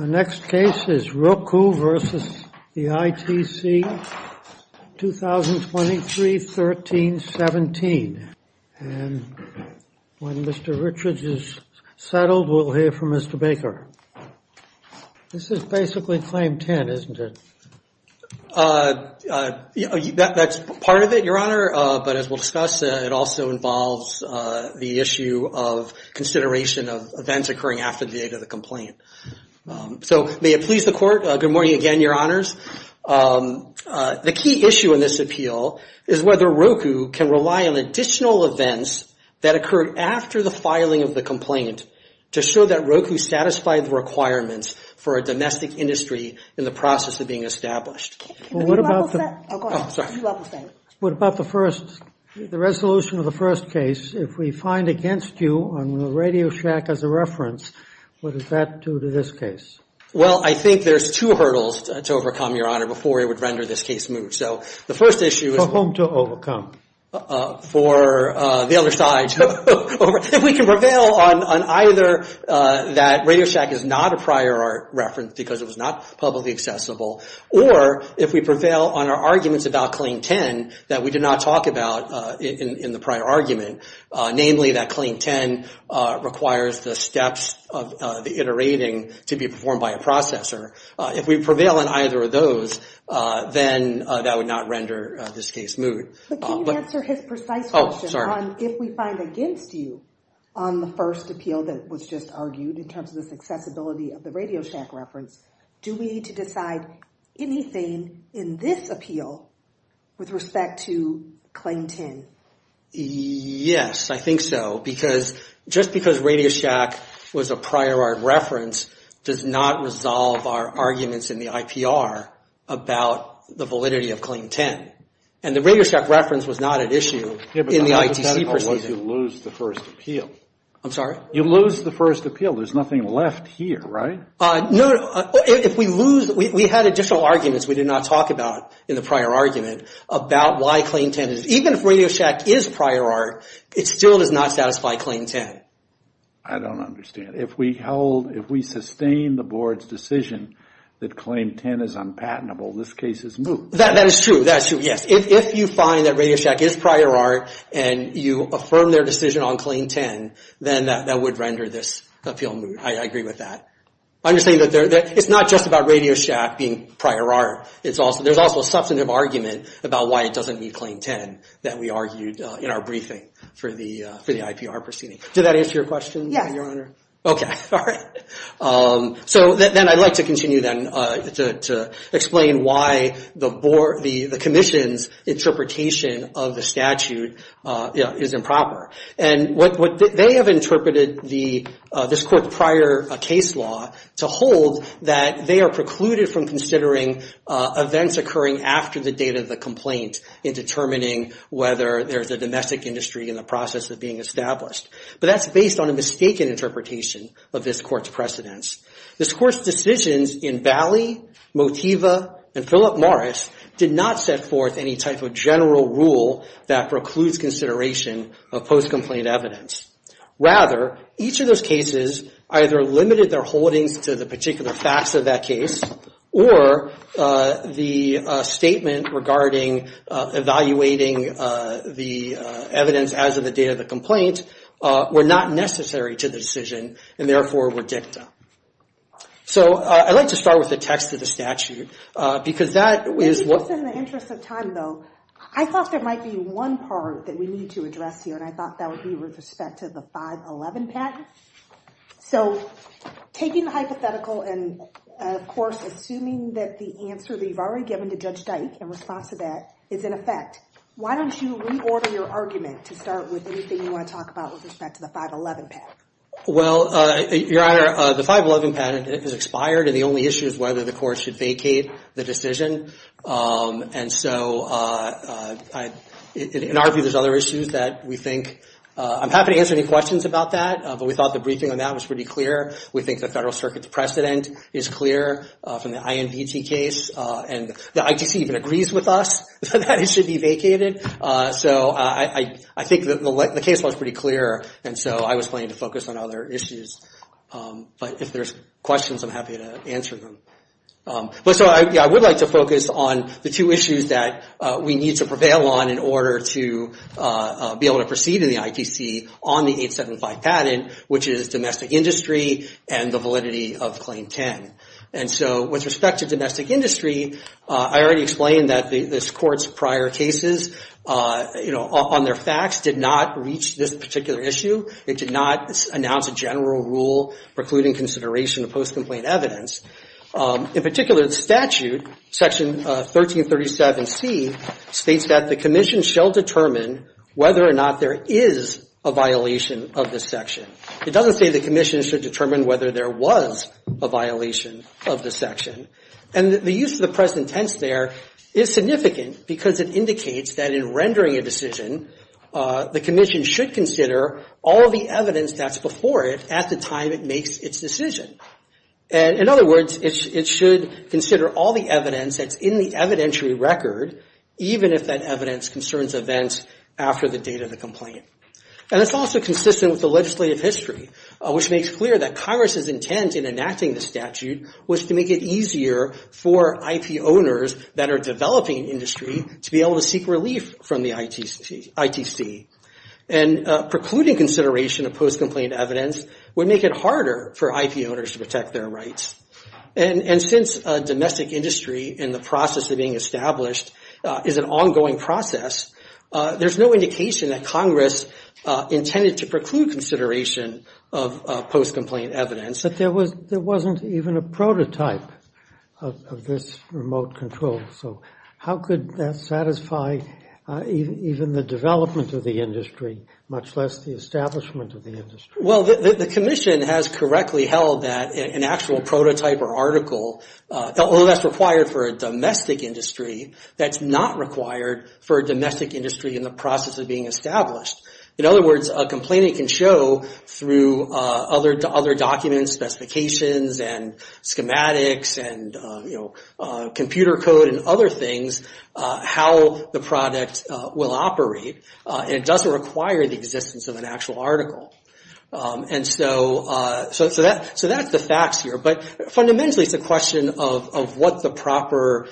The next case is Roku v. ITC, 2023-13-17, and when Mr. Richards is settled, we'll hear from Mr. Baker. This is basically Claim 10, isn't it? That's part of it, Your Honor, but as we'll discuss, it also involves the issue of consideration of events occurring after the date of the complaint. So may it please the Court, good morning again, Your Honors. The key issue in this appeal is whether Roku can rely on additional events that occurred after the filing of the complaint to show that Roku satisfied the requirements for a domestic industry in the process of being established. What about the first, the resolution of the first case? If we find against you on the Radio Shack as a reference, what does that do to this case? Well, I think there's two hurdles to overcome, Your Honor, before we would render this case moot. So the first issue is- For whom to overcome? For the other side. If we can prevail on either that Radio Shack is not a prior art reference because it was not publicly accessible, or if we prevail on our arguments about Claim 10 that we did not talk about in the prior argument, namely that Claim 10 requires the steps of the iterating to be performed by a processor, if we prevail on either of those, then that would not render this case moot. But can you answer his precise question on if we find against you on the first appeal that was just argued in terms of this accessibility of the Radio Shack reference, do we need to decide anything in this appeal with respect to Claim 10? Yes, I think so, because just because Radio Shack was a prior art reference does not resolve our arguments in the IPR about the validity of Claim 10. And the Radio Shack reference was not at issue in the ITC proceedings. Yeah, but the hypothetical was you lose the first appeal. I'm sorry? You lose the first appeal. There's nothing left here, right? No. If we lose, we had additional arguments we did not talk about in the prior argument about why Claim 10 is, even if Radio Shack is prior art, it still does not satisfy Claim 10. I don't understand. If we held, if we sustained the board's decision that Claim 10 is unpatentable, this case is moot. That is true. That is true, yes. If you find that Radio Shack is prior art and you affirm their decision on Claim 10, then that would render this appeal moot. I agree with that. I'm just saying that it's not just about Radio Shack being prior art. There's also a substantive argument about why it doesn't meet Claim 10 that we argued in our briefing for the IPR proceeding. Did that answer your question, Your Honor? Okay. All right. I'd like to continue then to explain why the Commission's interpretation of the statute is improper. They have interpreted this court's prior case law to hold that they are precluded from considering events occurring after the date of the complaint in determining whether there's a domestic industry in the process of being established. That's based on a mistaken interpretation of this court's precedence. This court's decisions in Bally, Motiva, and Philip Morris did not set forth any type of general rule that precludes consideration of post-complaint evidence. Rather, each of those cases either limited their holdings to the particular facts of that case or the statement regarding evaluating the evidence as of the date of the complaint were not necessary to the decision and, therefore, were dicta. So, I'd like to start with the text of the statute, because that is what... In the interest of time, though, I thought there might be one part that we need to address here, and I thought that would be with respect to the 511 patent. So, taking the hypothetical and, of course, assuming that the answer that you've already given to Judge Dyke in response to that is in effect, why don't you reorder your argument to start with anything you want to talk about with respect to the 511 patent? Well, Your Honor, the 511 patent is expired, and the only issue is whether the court should vacate the decision. And so, in our view, there's other issues that we think... I'm happy to answer any questions about that, but we thought the briefing on that was pretty clear. We think the Federal Circuit's precedent is clear from the INVT case, and the ITC even agrees with us that it should be vacated. So, I think the case was pretty clear, and so I was planning to focus on other issues. But if there's questions, I'm happy to answer them. So, I would like to focus on the two issues that we need to prevail on in order to be able to proceed in the ITC on the 875 patent, which is domestic industry and the validity of Claim 10. And so, with respect to domestic industry, I already explained that this Court's prior cases on their facts did not reach this particular issue. It did not announce a general rule precluding consideration of post-complaint evidence. In particular, the statute, Section 1337C, states that the Commission shall determine whether or not there is a violation of this section. It doesn't say the Commission should determine whether there was a violation of the section. And the use of the present tense there is significant because it indicates that in rendering a decision, the Commission should consider all the evidence that's before it at the time it makes its decision. In other words, it should consider all the evidence that's in the evidentiary record, even if that evidence concerns events after the date of the complaint. And it's also consistent with the legislative history, which makes clear that Congress's intent in enacting the statute was to make it easier for IP owners that are developing industry to be able to seek relief from the ITC. And precluding consideration of post-complaint evidence would make it harder for IP owners to protect their rights. And since domestic industry and the process of being established is an ongoing process, there's no indication that Congress intended to preclude consideration of post-complaint evidence. But there wasn't even a prototype of this remote control. So how could that satisfy even the development of the industry, much less the establishment of the industry? Well, the Commission has correctly held that an actual prototype or article, although that's required for a domestic industry, that's not required for a domestic industry in the process of being established. In other words, a complaint can show through other documents, specifications, and schematics, and computer code, and other things, how the product will operate. It doesn't require the existence of an actual article. And so that's the facts here. But fundamentally, it's a question of what the proper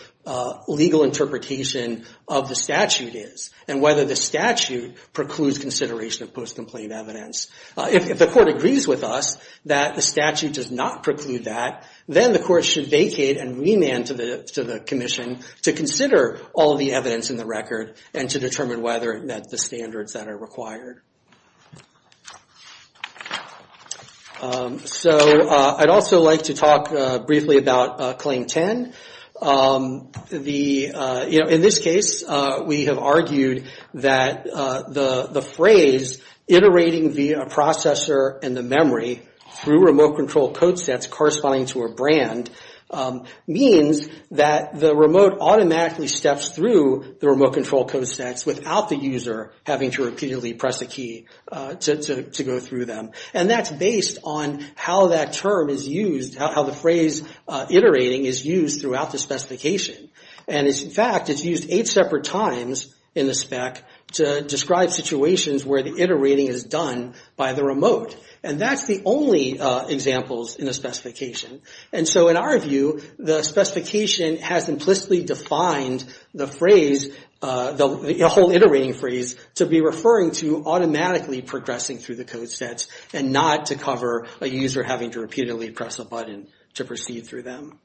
legal interpretation of the statute is, and whether the statute precludes consideration of post-complaint evidence. If the court agrees with us that the statute does not preclude that, then the court should vacate and remand to the Commission to consider all the evidence in the record and to determine whether it met the standards that are required. So I'd also like to talk briefly about Claim 10. In this case, we have argued that the phrase, iterating via a processor and the memory, through remote-controlled code sets corresponding to a brand, means that the remote automatically steps through the remote-controlled code sets without the user having to repeatedly press a key. And that's based on how that term is used, how the phrase iterating is used throughout the specification. And in fact, it's used eight separate times in the spec to describe situations where the iterating is done by the remote. And that's the only examples in the specification. And so in our view, the specification has implicitly defined the phrase, the whole iterating phrase, to be referring to automatically progressing through the code sets and not to cover a user having to repeatedly press a button to proceed through them.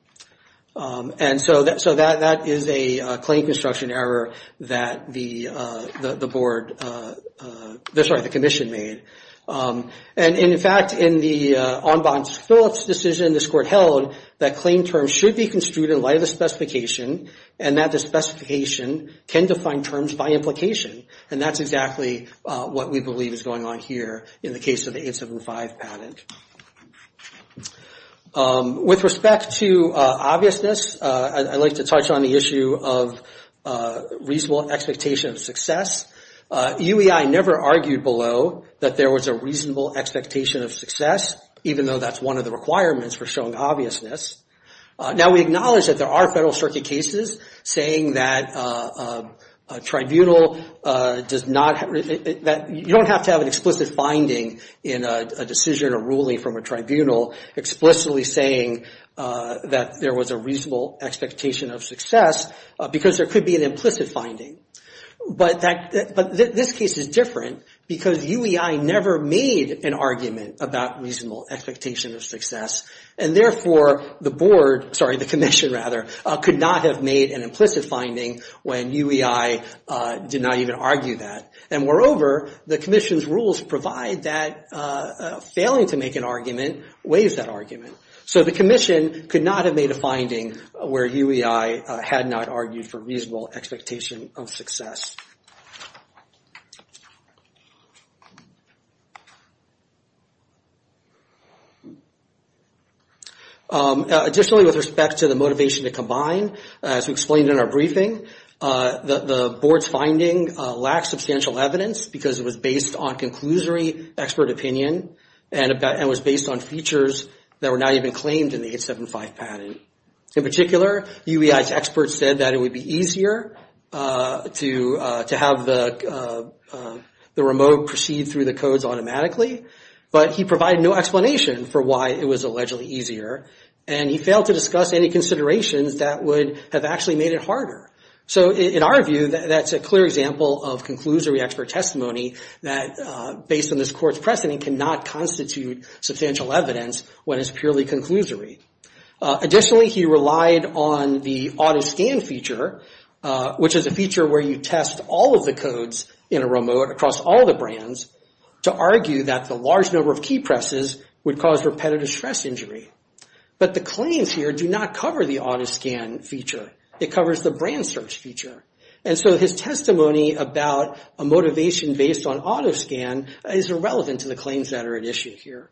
And so that is a claim construction error that the Board, sorry, the Commission made. And in fact, in the Ombuds Phillips decision this court held, that claim terms should be construed in light of the specification and that the specification can define terms by implication. And that's exactly what we believe is going on here in the case of the 875 patent. With respect to obviousness, I'd like to touch on the issue of reasonable expectation of success. UEI never argued below that there was a reasonable expectation of success, even though that's one of the requirements for showing obviousness. Now we acknowledge that there are Federal Circuit cases saying that a tribunal does not, you don't have to have an explicit finding in a decision or ruling from a tribunal explicitly saying that there was a reasonable expectation of success because there could be an implicit finding. But this case is different because UEI never made an argument about reasonable expectation of success. And therefore, the Board, sorry, the Commission rather, could not have made an implicit finding when UEI did not even argue that. And moreover, the Commission's rules provide that failing to make an argument weighs that argument. So the Commission could not have made a finding where UEI had not argued for reasonable expectation of success. Additionally, with respect to the motivation to combine, as we explained in our briefing, the Board's finding lacks substantial evidence because it was based on conclusory expert opinion and was based on features that were not even claimed in the 875 patent. In particular, UEI's experts said that it would be easier to have the remote proceed through the codes automatically. But he provided no explanation for why it was allegedly easier. And he failed to discuss any considerations that would have actually made it harder. So in our view, that's a clear example of conclusory expert testimony that based on this Court's precedent cannot constitute substantial evidence when it's purely conclusory. Additionally, he relied on the auto-scan feature, which is a feature where you test all of the codes in a remote across all the brands to argue that the large number of key presses would cause repetitive stress injury. But the claims here do not cover the auto-scan feature. It covers the brand search feature. And so his testimony about a motivation based on auto-scan is irrelevant to the claims that are at issue here.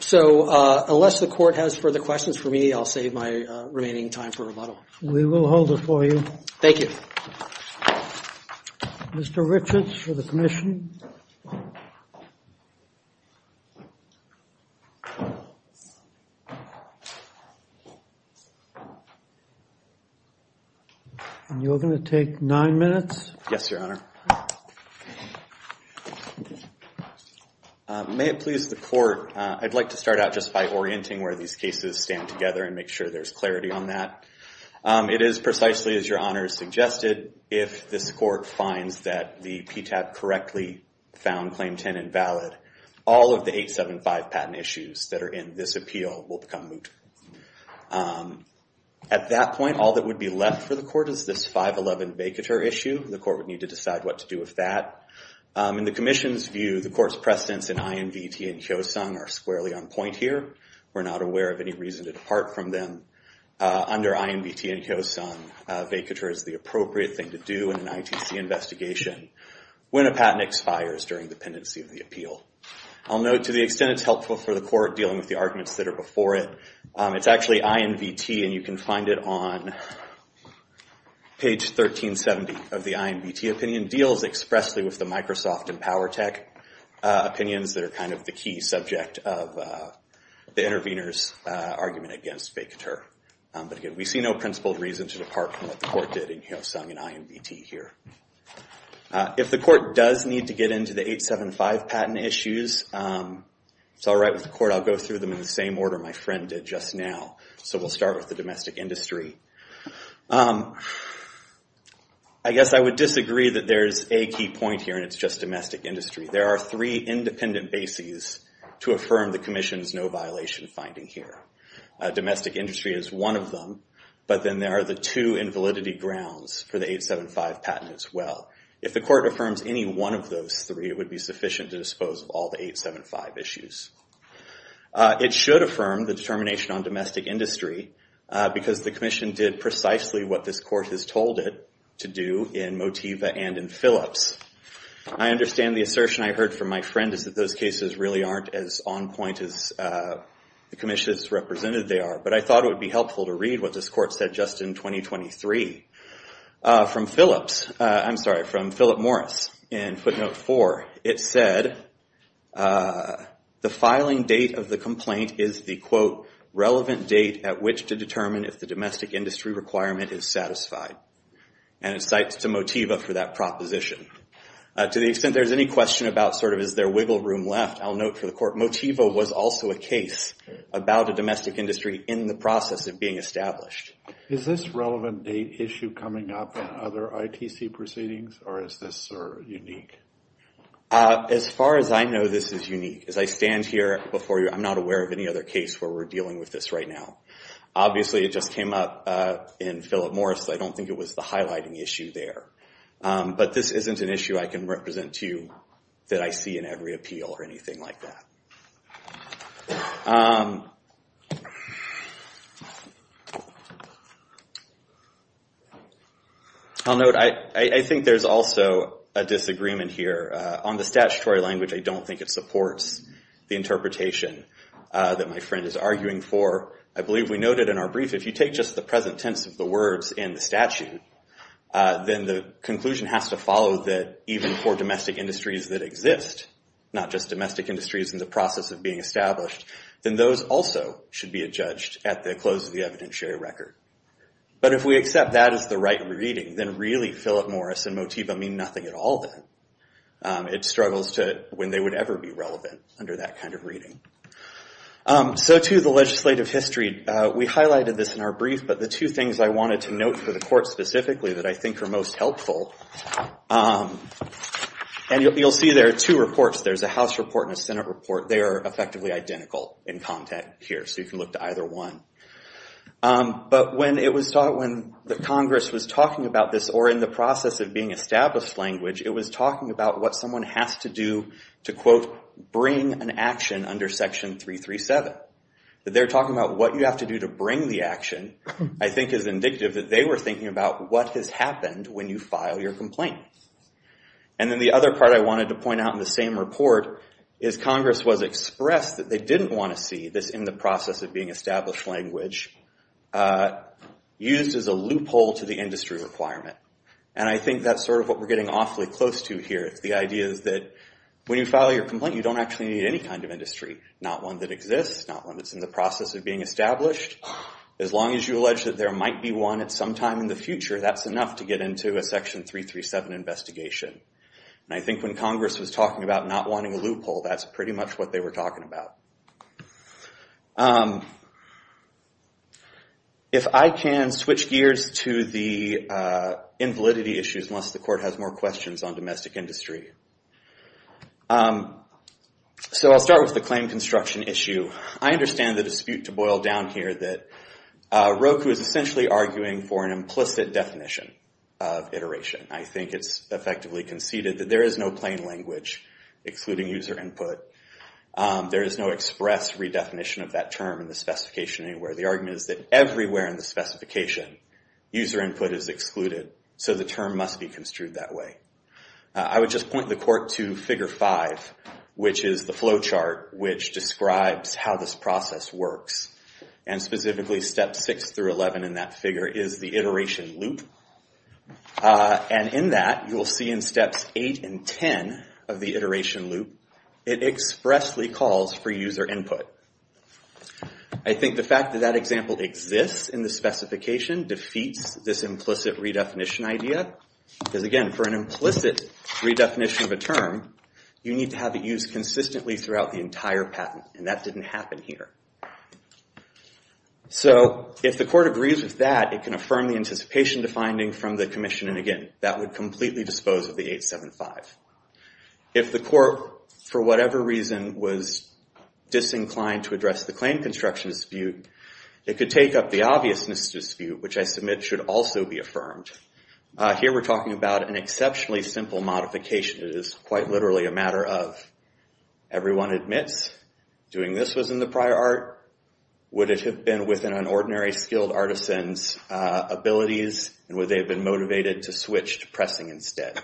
So unless the Court has further questions for me, I'll save my remaining time for rebuttal. We will hold it for you. Thank you. Mr. Richards for the Commission. You're going to take nine minutes. Yes, Your Honor. May it please the Court, I'd like to start out just by orienting where these cases stand together and make sure there's clarity on that. It is precisely as Your Honor suggested, if this Court finds that the PTAP correctly found Claim 10 invalid, all of the 875 patent issues that are in this appeal will become moot. At that point, all that would be left for the Court is this 511 vacatur issue. The Court would need to decide what to do with that. In the Commission's view, the Court's precedents in INVT and Kyosung are squarely on point here. We're not aware of any reason to depart from them. Under INVT and Kyosung, vacatur is the appropriate thing to do in an ITC investigation when a patent expires during the pendency of the appeal. I'll note to the extent it's helpful for the Court dealing with the arguments that are before it. It's actually INVT and you can find it on page 1370 of the INVT opinion. It deals expressly with the Microsoft and PowerTech opinions that are kind of the key subject of the intervener's argument against vacatur. But again, we see no principled reason to depart from what the Court did in Kyosung and INVT here. If the Court does need to get into the 875 patent issues, it's alright with the Court. I'll go through them in the same order my friend did just now. So we'll start with the domestic industry. I guess I would disagree that there's a key point here and it's just domestic industry. There are three independent bases to affirm the Commission's no violation finding here. Domestic industry is one of them, but then there are the two invalidity grounds for the 875 patent as well. If the Court affirms any one of those three, it would be sufficient to dispose of all the 875 issues. It should affirm the determination on domestic industry because the Commission did precisely what this Court has told it to do in Motiva and in Phillips. I understand the assertion I heard from my friend is that those cases really aren't as on point as the Commission has represented they are. But I thought it would be helpful to read what this Court said just in 2023. From Phillips, I'm sorry from Philip Morris in footnote 4, it said the filing date of the complaint is the relevant date at which to determine if the domestic industry requirement is satisfied. And it cites to Motiva for that proposition. To the extent there's any question about sort of is there wiggle room left, I'll note for the Court Motiva was also a case about a domestic industry in the process of being established. Is this relevant date issue coming up in other ITC proceedings or is this unique? As far as I know, this is unique. As I stand here before you, I'm not aware of any other case where we're dealing with this right now. Obviously, it just came up in Philip Morris. I don't think it was the highlighting issue there. But this isn't an issue I can represent to you that I see in every appeal or anything like that. I'll note, I think there's also a disagreement here. On the statutory language, I don't think it supports the interpretation that my friend is arguing for. I believe we noted in our brief, if you take just the present tense of the words in the statute, then the conclusion has to follow that even for domestic industries that exist, not just domestic industries in the process of being established, then those also should be adjudged at the close of the evidentiary record. But if we accept that as the right reading, then really Philip Morris and Motiva mean nothing at all then. It struggles to when they would ever be relevant under that kind of reading. So to the legislative history, we highlighted this in our brief, but the two things I wanted to note for the court specifically that I think are most helpful, and you'll see there are two reports. There's a House report and a Senate report. They are effectively identical in content here, so you can look to either one. When the Congress was talking about this, or in the process of being established language, it was talking about what someone has to do to quote, bring an action under section 337. They're talking about what you have to do to bring the action, I think is indicative that they were thinking about what has happened when you file your complaint. And then the other part I wanted to point out in the same report is Congress was expressed that they didn't want to see this in the process of being established language used as a loophole to the industry requirement. And I think that's sort of what we're getting awfully close to here. The idea is that when you file your complaint, you don't actually need any kind of industry. Not one that exists, not one that's in the process of being established. As long as you allege that there might be one at some time in the future, that's enough to get into a section 337 investigation. And I think when Congress was talking about not wanting a loophole, that's pretty much what they were talking about. If I can switch gears to the invalidity issues, unless the court has more questions on domestic industry. So I'll start with the claim construction issue. I understand the dispute to boil down here that Roku is essentially arguing for an implicit definition of iteration. I think it's effectively conceded that there is no plain language excluding user input. There is no express redefinition of that term in the specification anywhere. The argument is that everywhere in the specification, user input is excluded. So the term must be construed that way. I would just point the court to figure five, which is the flow chart which describes how this process works. And specifically steps six through 11 in that figure is the iteration loop. And in that, you'll see in steps eight and 10 of the iteration loop, it expressly calls for user input. I think the fact that that example exists in the specification defeats this implicit redefinition idea. Because again, for an implicit redefinition of a term, you need to have it used consistently throughout the entire patent. And that didn't happen here. So if the court agrees with that, it can affirm the anticipation to finding from the commission. And again, that would completely dispose of the 875. If the court, for whatever reason, was disinclined to address the claim construction dispute, it could take up the obviousness dispute, which I submit should also be affirmed. Here we're talking about an exceptionally simple modification. It is quite literally a matter of everyone admits doing this was in the prior art. Would it have been within an ordinary skilled artisan's abilities? And would they have been motivated to switch to pressing instead?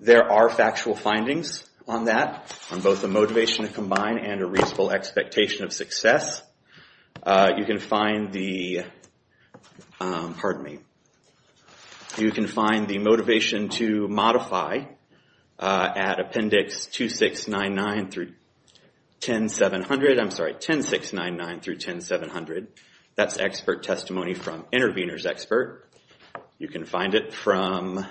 There are factual findings on that, on both the motivation to combine and a reasonable expectation of success. You can find the motivation to modify at appendix 2699 through 10700. I'm sorry, 10699 through 10700. That's expert testimony from intervener's expert. You can find it from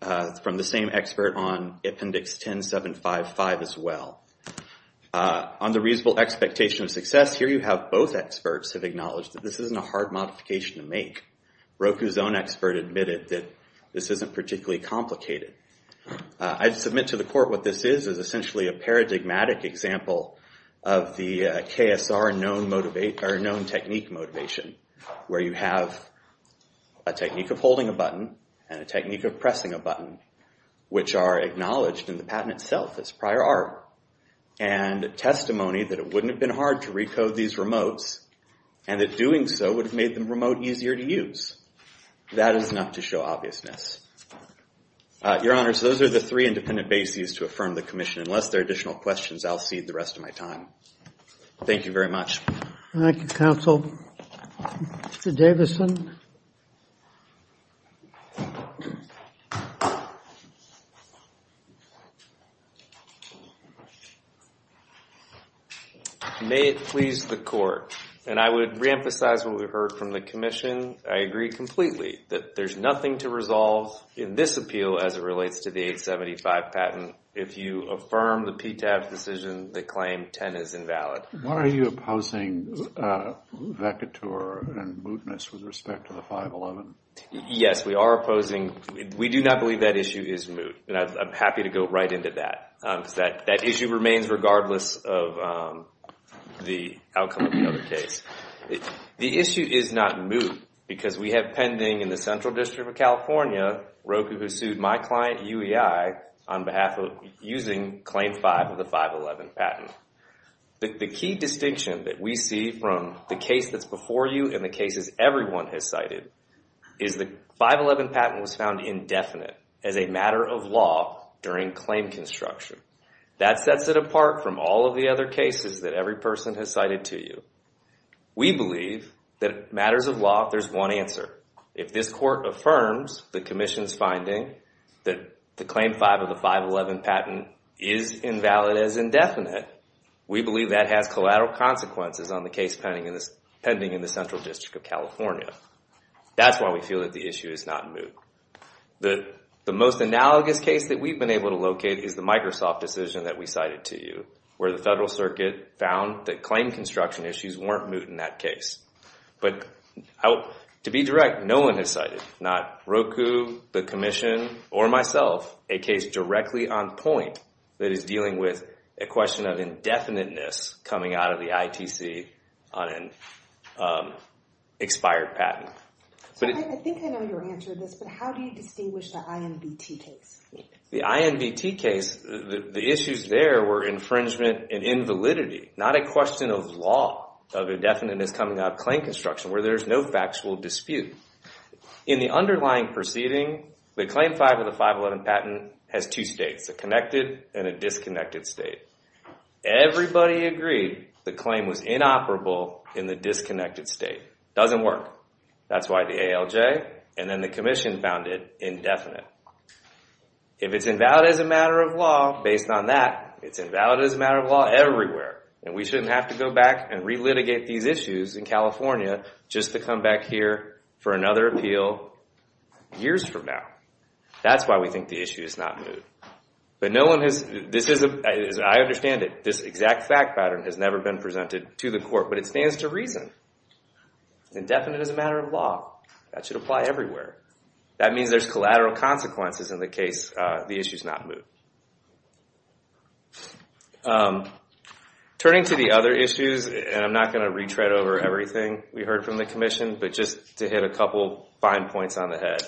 the same expert on appendix 10755 as well. On the reasonable expectation of success, here you have both experts have acknowledged that this isn't a hard modification to make. Roku's own expert admitted that this isn't particularly complicated. I submit to the court what this is, is essentially a paradigmatic example of the KSR known technique motivation, where you have a technique of holding a button and a technique of pressing a button, which are acknowledged in the patent itself as prior art, and testimony that it wouldn't have been hard to recode these remotes, and that doing so would have made them remote easier to use. That is enough to show obviousness. Your Honor, so those are the three independent bases to affirm the commission. Unless there are additional questions, I'll cede the rest of my time. Thank you very much. Thank you, counsel. Mr. Davidson? May it please the court, and I would reemphasize what we heard from the commission. I agree completely that there's nothing to resolve in this appeal as it relates to the 875 patent if you affirm the PTAB's decision to claim 10 is invalid. Why are you opposing vacatur and mootness with respect to the 511? Yes, we are opposing. We do not believe that the issue is moot, and I'm happy to go right into that, because that issue remains regardless of the outcome of the other case. The issue is not moot, because we have pending in the Central District of California, Roku, who sued my client, UEI, on behalf of using Claim 5 of the 511 patent. The key distinction that we see from the case that's before you and the cases everyone has cited is the 511 patent was found indefinite as a matter of law during claim construction. That sets it apart from all of the other cases that every person has cited to you. We believe that matters of law, there's one answer. If this court affirms the commission's finding that the Claim 5 of the 511 patent is invalid as indefinite, we believe that has collateral consequences on the case pending in the Central District of California. That's why we feel that the issue is not moot. The most analogous case that we've been able to locate is the Microsoft decision that we cited to you, where the Federal Circuit found that claim construction issues weren't moot in that case. But, to be direct, no one has cited, not Roku, the commission, or myself, a case directly on point that is dealing with a question of indefiniteness coming out of the ITC on an expired patent. I think I know your answer to this, but how do you distinguish the INVT case? The INVT case, the issues there were infringement and invalidity, not a question of law, of indefiniteness coming out of claim construction, where there's no factual dispute. In the underlying proceeding, the Claim 5 of the 511 patent has two states, a connected and a disconnected state. Everybody agreed the claim was inoperable in the disconnected state. It doesn't work. That's why the ALJ and then the commission found it indefinite. If it's invalid as a matter of law, based on that, it's invalid as a matter of law everywhere, and we shouldn't have to go back and relitigate these issues in California just to come back here for another appeal years from now. That's why we think the issue is not moot. But no one has, as I understand it, this exact fact pattern has never been presented to the court, but it stands to reason it's indefinite as a matter of law. That should apply everywhere. That means there's collateral consequences in the case the issue's not moot. Turning to the other issues, and I'm not going to retread over everything we heard from the commission, but just to hit a couple fine points on the head.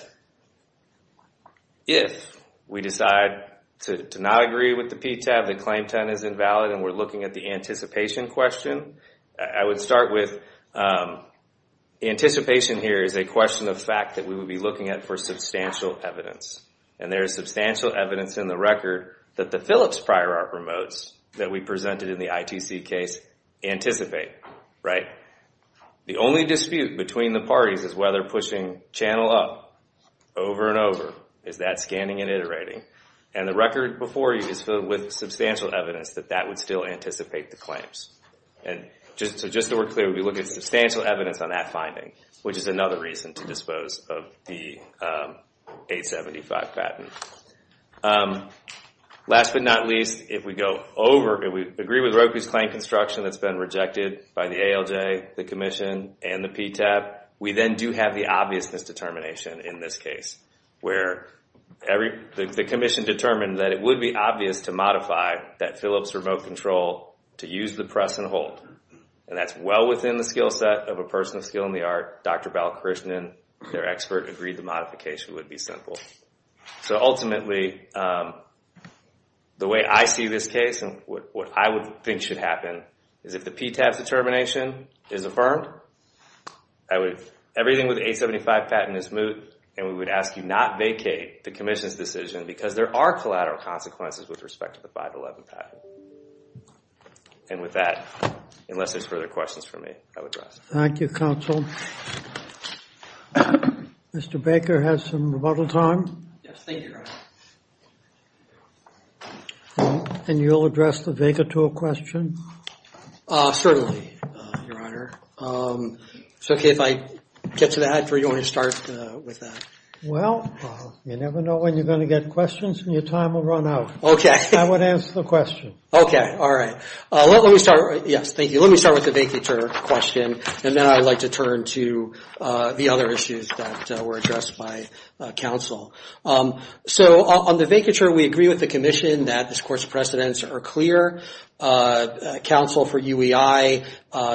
If we decide to not agree with the PTAB, the claim 10 is invalid, and we're looking at the anticipation question, I would start with anticipation here is a question of fact that we would be looking at for substantial evidence. And there is substantial evidence in the record that the Phillips prior art remotes that we presented in the ITC case anticipate. The only dispute between the parties is whether pushing channel up over and over, is that scanning and iterating? And the record before you is filled with substantial evidence that that would still anticipate the claims. So just so we're clear, we would be looking at substantial evidence on that finding, which is another reason to dispose of the 875 patent. Last but not least, if we agree with Roku's claim construction that's been rejected by the ALJ, the commission, and the PTAB, we then do have the obviousness determination in this case. Where the commission determined that it would be obvious to modify that Phillips remote control to use the press and hold. And that's well within the skill set of a person of skill in the art, Dr. Balakrishnan, their expert, agreed the modification would be simple. So ultimately, the way I see this case, and what I would think should happen, is if the PTAB's determination is affirmed, everything with the 875 patent is moot, and we would ask you not vacate the commission's decision because there are collateral consequences with respect to the 511 patent. And with that, unless there's further questions for me, I would rest. Thank you, counsel. Mr. Baker has some rebuttal time. And you'll address the Vega tool question? Certainly, your honor. It's okay if I get to that, or do you want to start with that? Well, you never know when you're going to get questions, and your time will run out. I would answer the question. Let me start with the Vega tool question, and then I would like to turn to the other issues that were addressed by counsel. So on the Vega tool, we agree with the commission that this court's precedents are clear. Counsel for UEI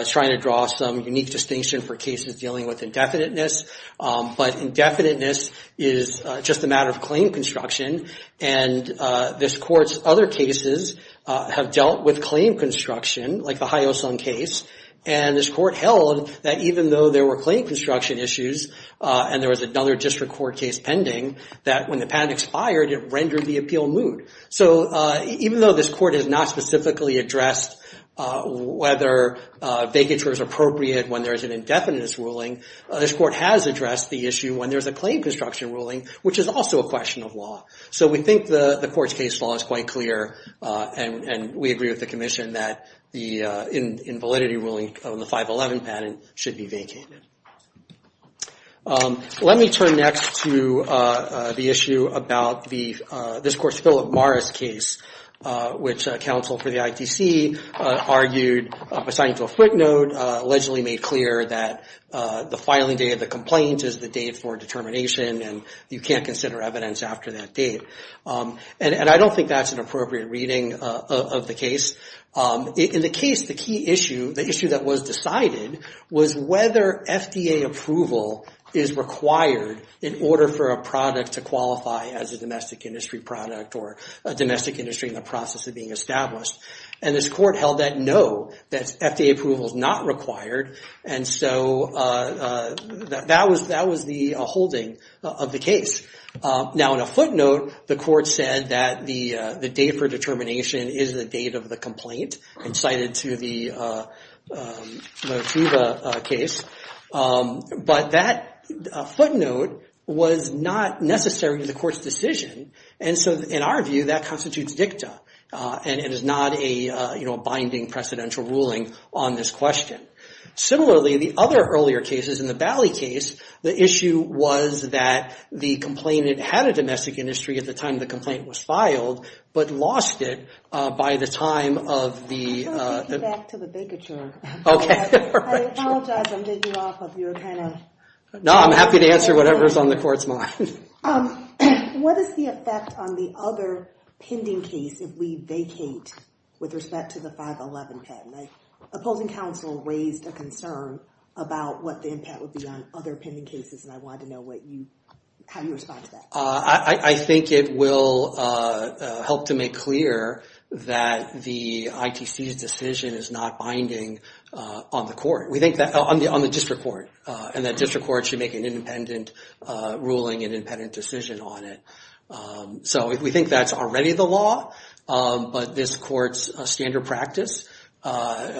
is trying to draw some unique distinction for cases dealing with indefiniteness, but indefiniteness is just a matter of claim construction, and this court's other cases have dealt with claim construction, like the Hyosung case, and this court held that even though there were claim construction issues and there was another district court case pending, that when the patent expired it rendered the appeal moot. So even though this court has not specifically addressed whether vacatures are appropriate when there's an indefiniteness ruling, this court has addressed the issue when there's a claim construction ruling, which is also a question of law. So we think the court's case law is quite clear, and we agree with the commission that the invalidity ruling on the 511 patent should be vacated. Let me turn next to the issue about this court's Philip Morris case, which counsel for the ITC argued, assigned to a footnote, allegedly made clear that the filing date of the complaint is the date for determination, and you can't consider evidence after that date. And I don't think that's an appropriate reading of the case. In the case, the key issue, the issue that was decided was whether FDA approval is required in order for a product to qualify as a domestic industry product or a domestic industry in the process of being established. And this court held that no, that FDA approval is not required, and so that was the holding of the case. Now in a footnote, the court said that the date for determination is the date of the complaint, and cited to the case. But that footnote was not necessary to the court's decision, and so in our view, that constitutes dicta. And it is not a binding, precedential ruling on this question. Similarly, the other earlier cases, in the Bally case, the issue was that the complainant had a domestic industry at the time the complaint was filed, but lost it by the time of the... I apologize, I'm taking you off of your kind of... No, I'm happy to answer whatever's on the court's mind. What is the effect on the other pending case if we vacate with respect to the 511 patent? Opposing counsel raised a concern about what the impact would be on other pending cases, and I wanted to know how you respond to that. I think it will help to make clear that the ITC's decision is not binding on the court. We think that... On the district court, and that district court should make an independent ruling, an independent decision on it. So we think that's already the law, but this court's standard practice,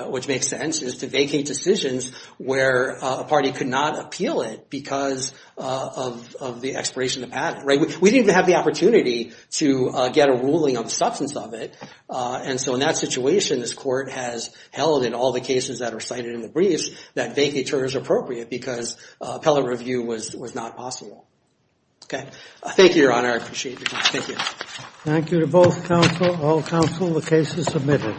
which makes sense, is to vacate decisions where a party could not appeal it because of the expiration of the patent. We didn't even have the opportunity to get a ruling on the substance of it, and so in that situation, this court has held in all the cases that are cited in the briefs, that vacature is appropriate because appellate review was not possible. Thank you, Your Honor, I appreciate your time. Thank you. Thank you to both counsel, all counsel, the case is submitted.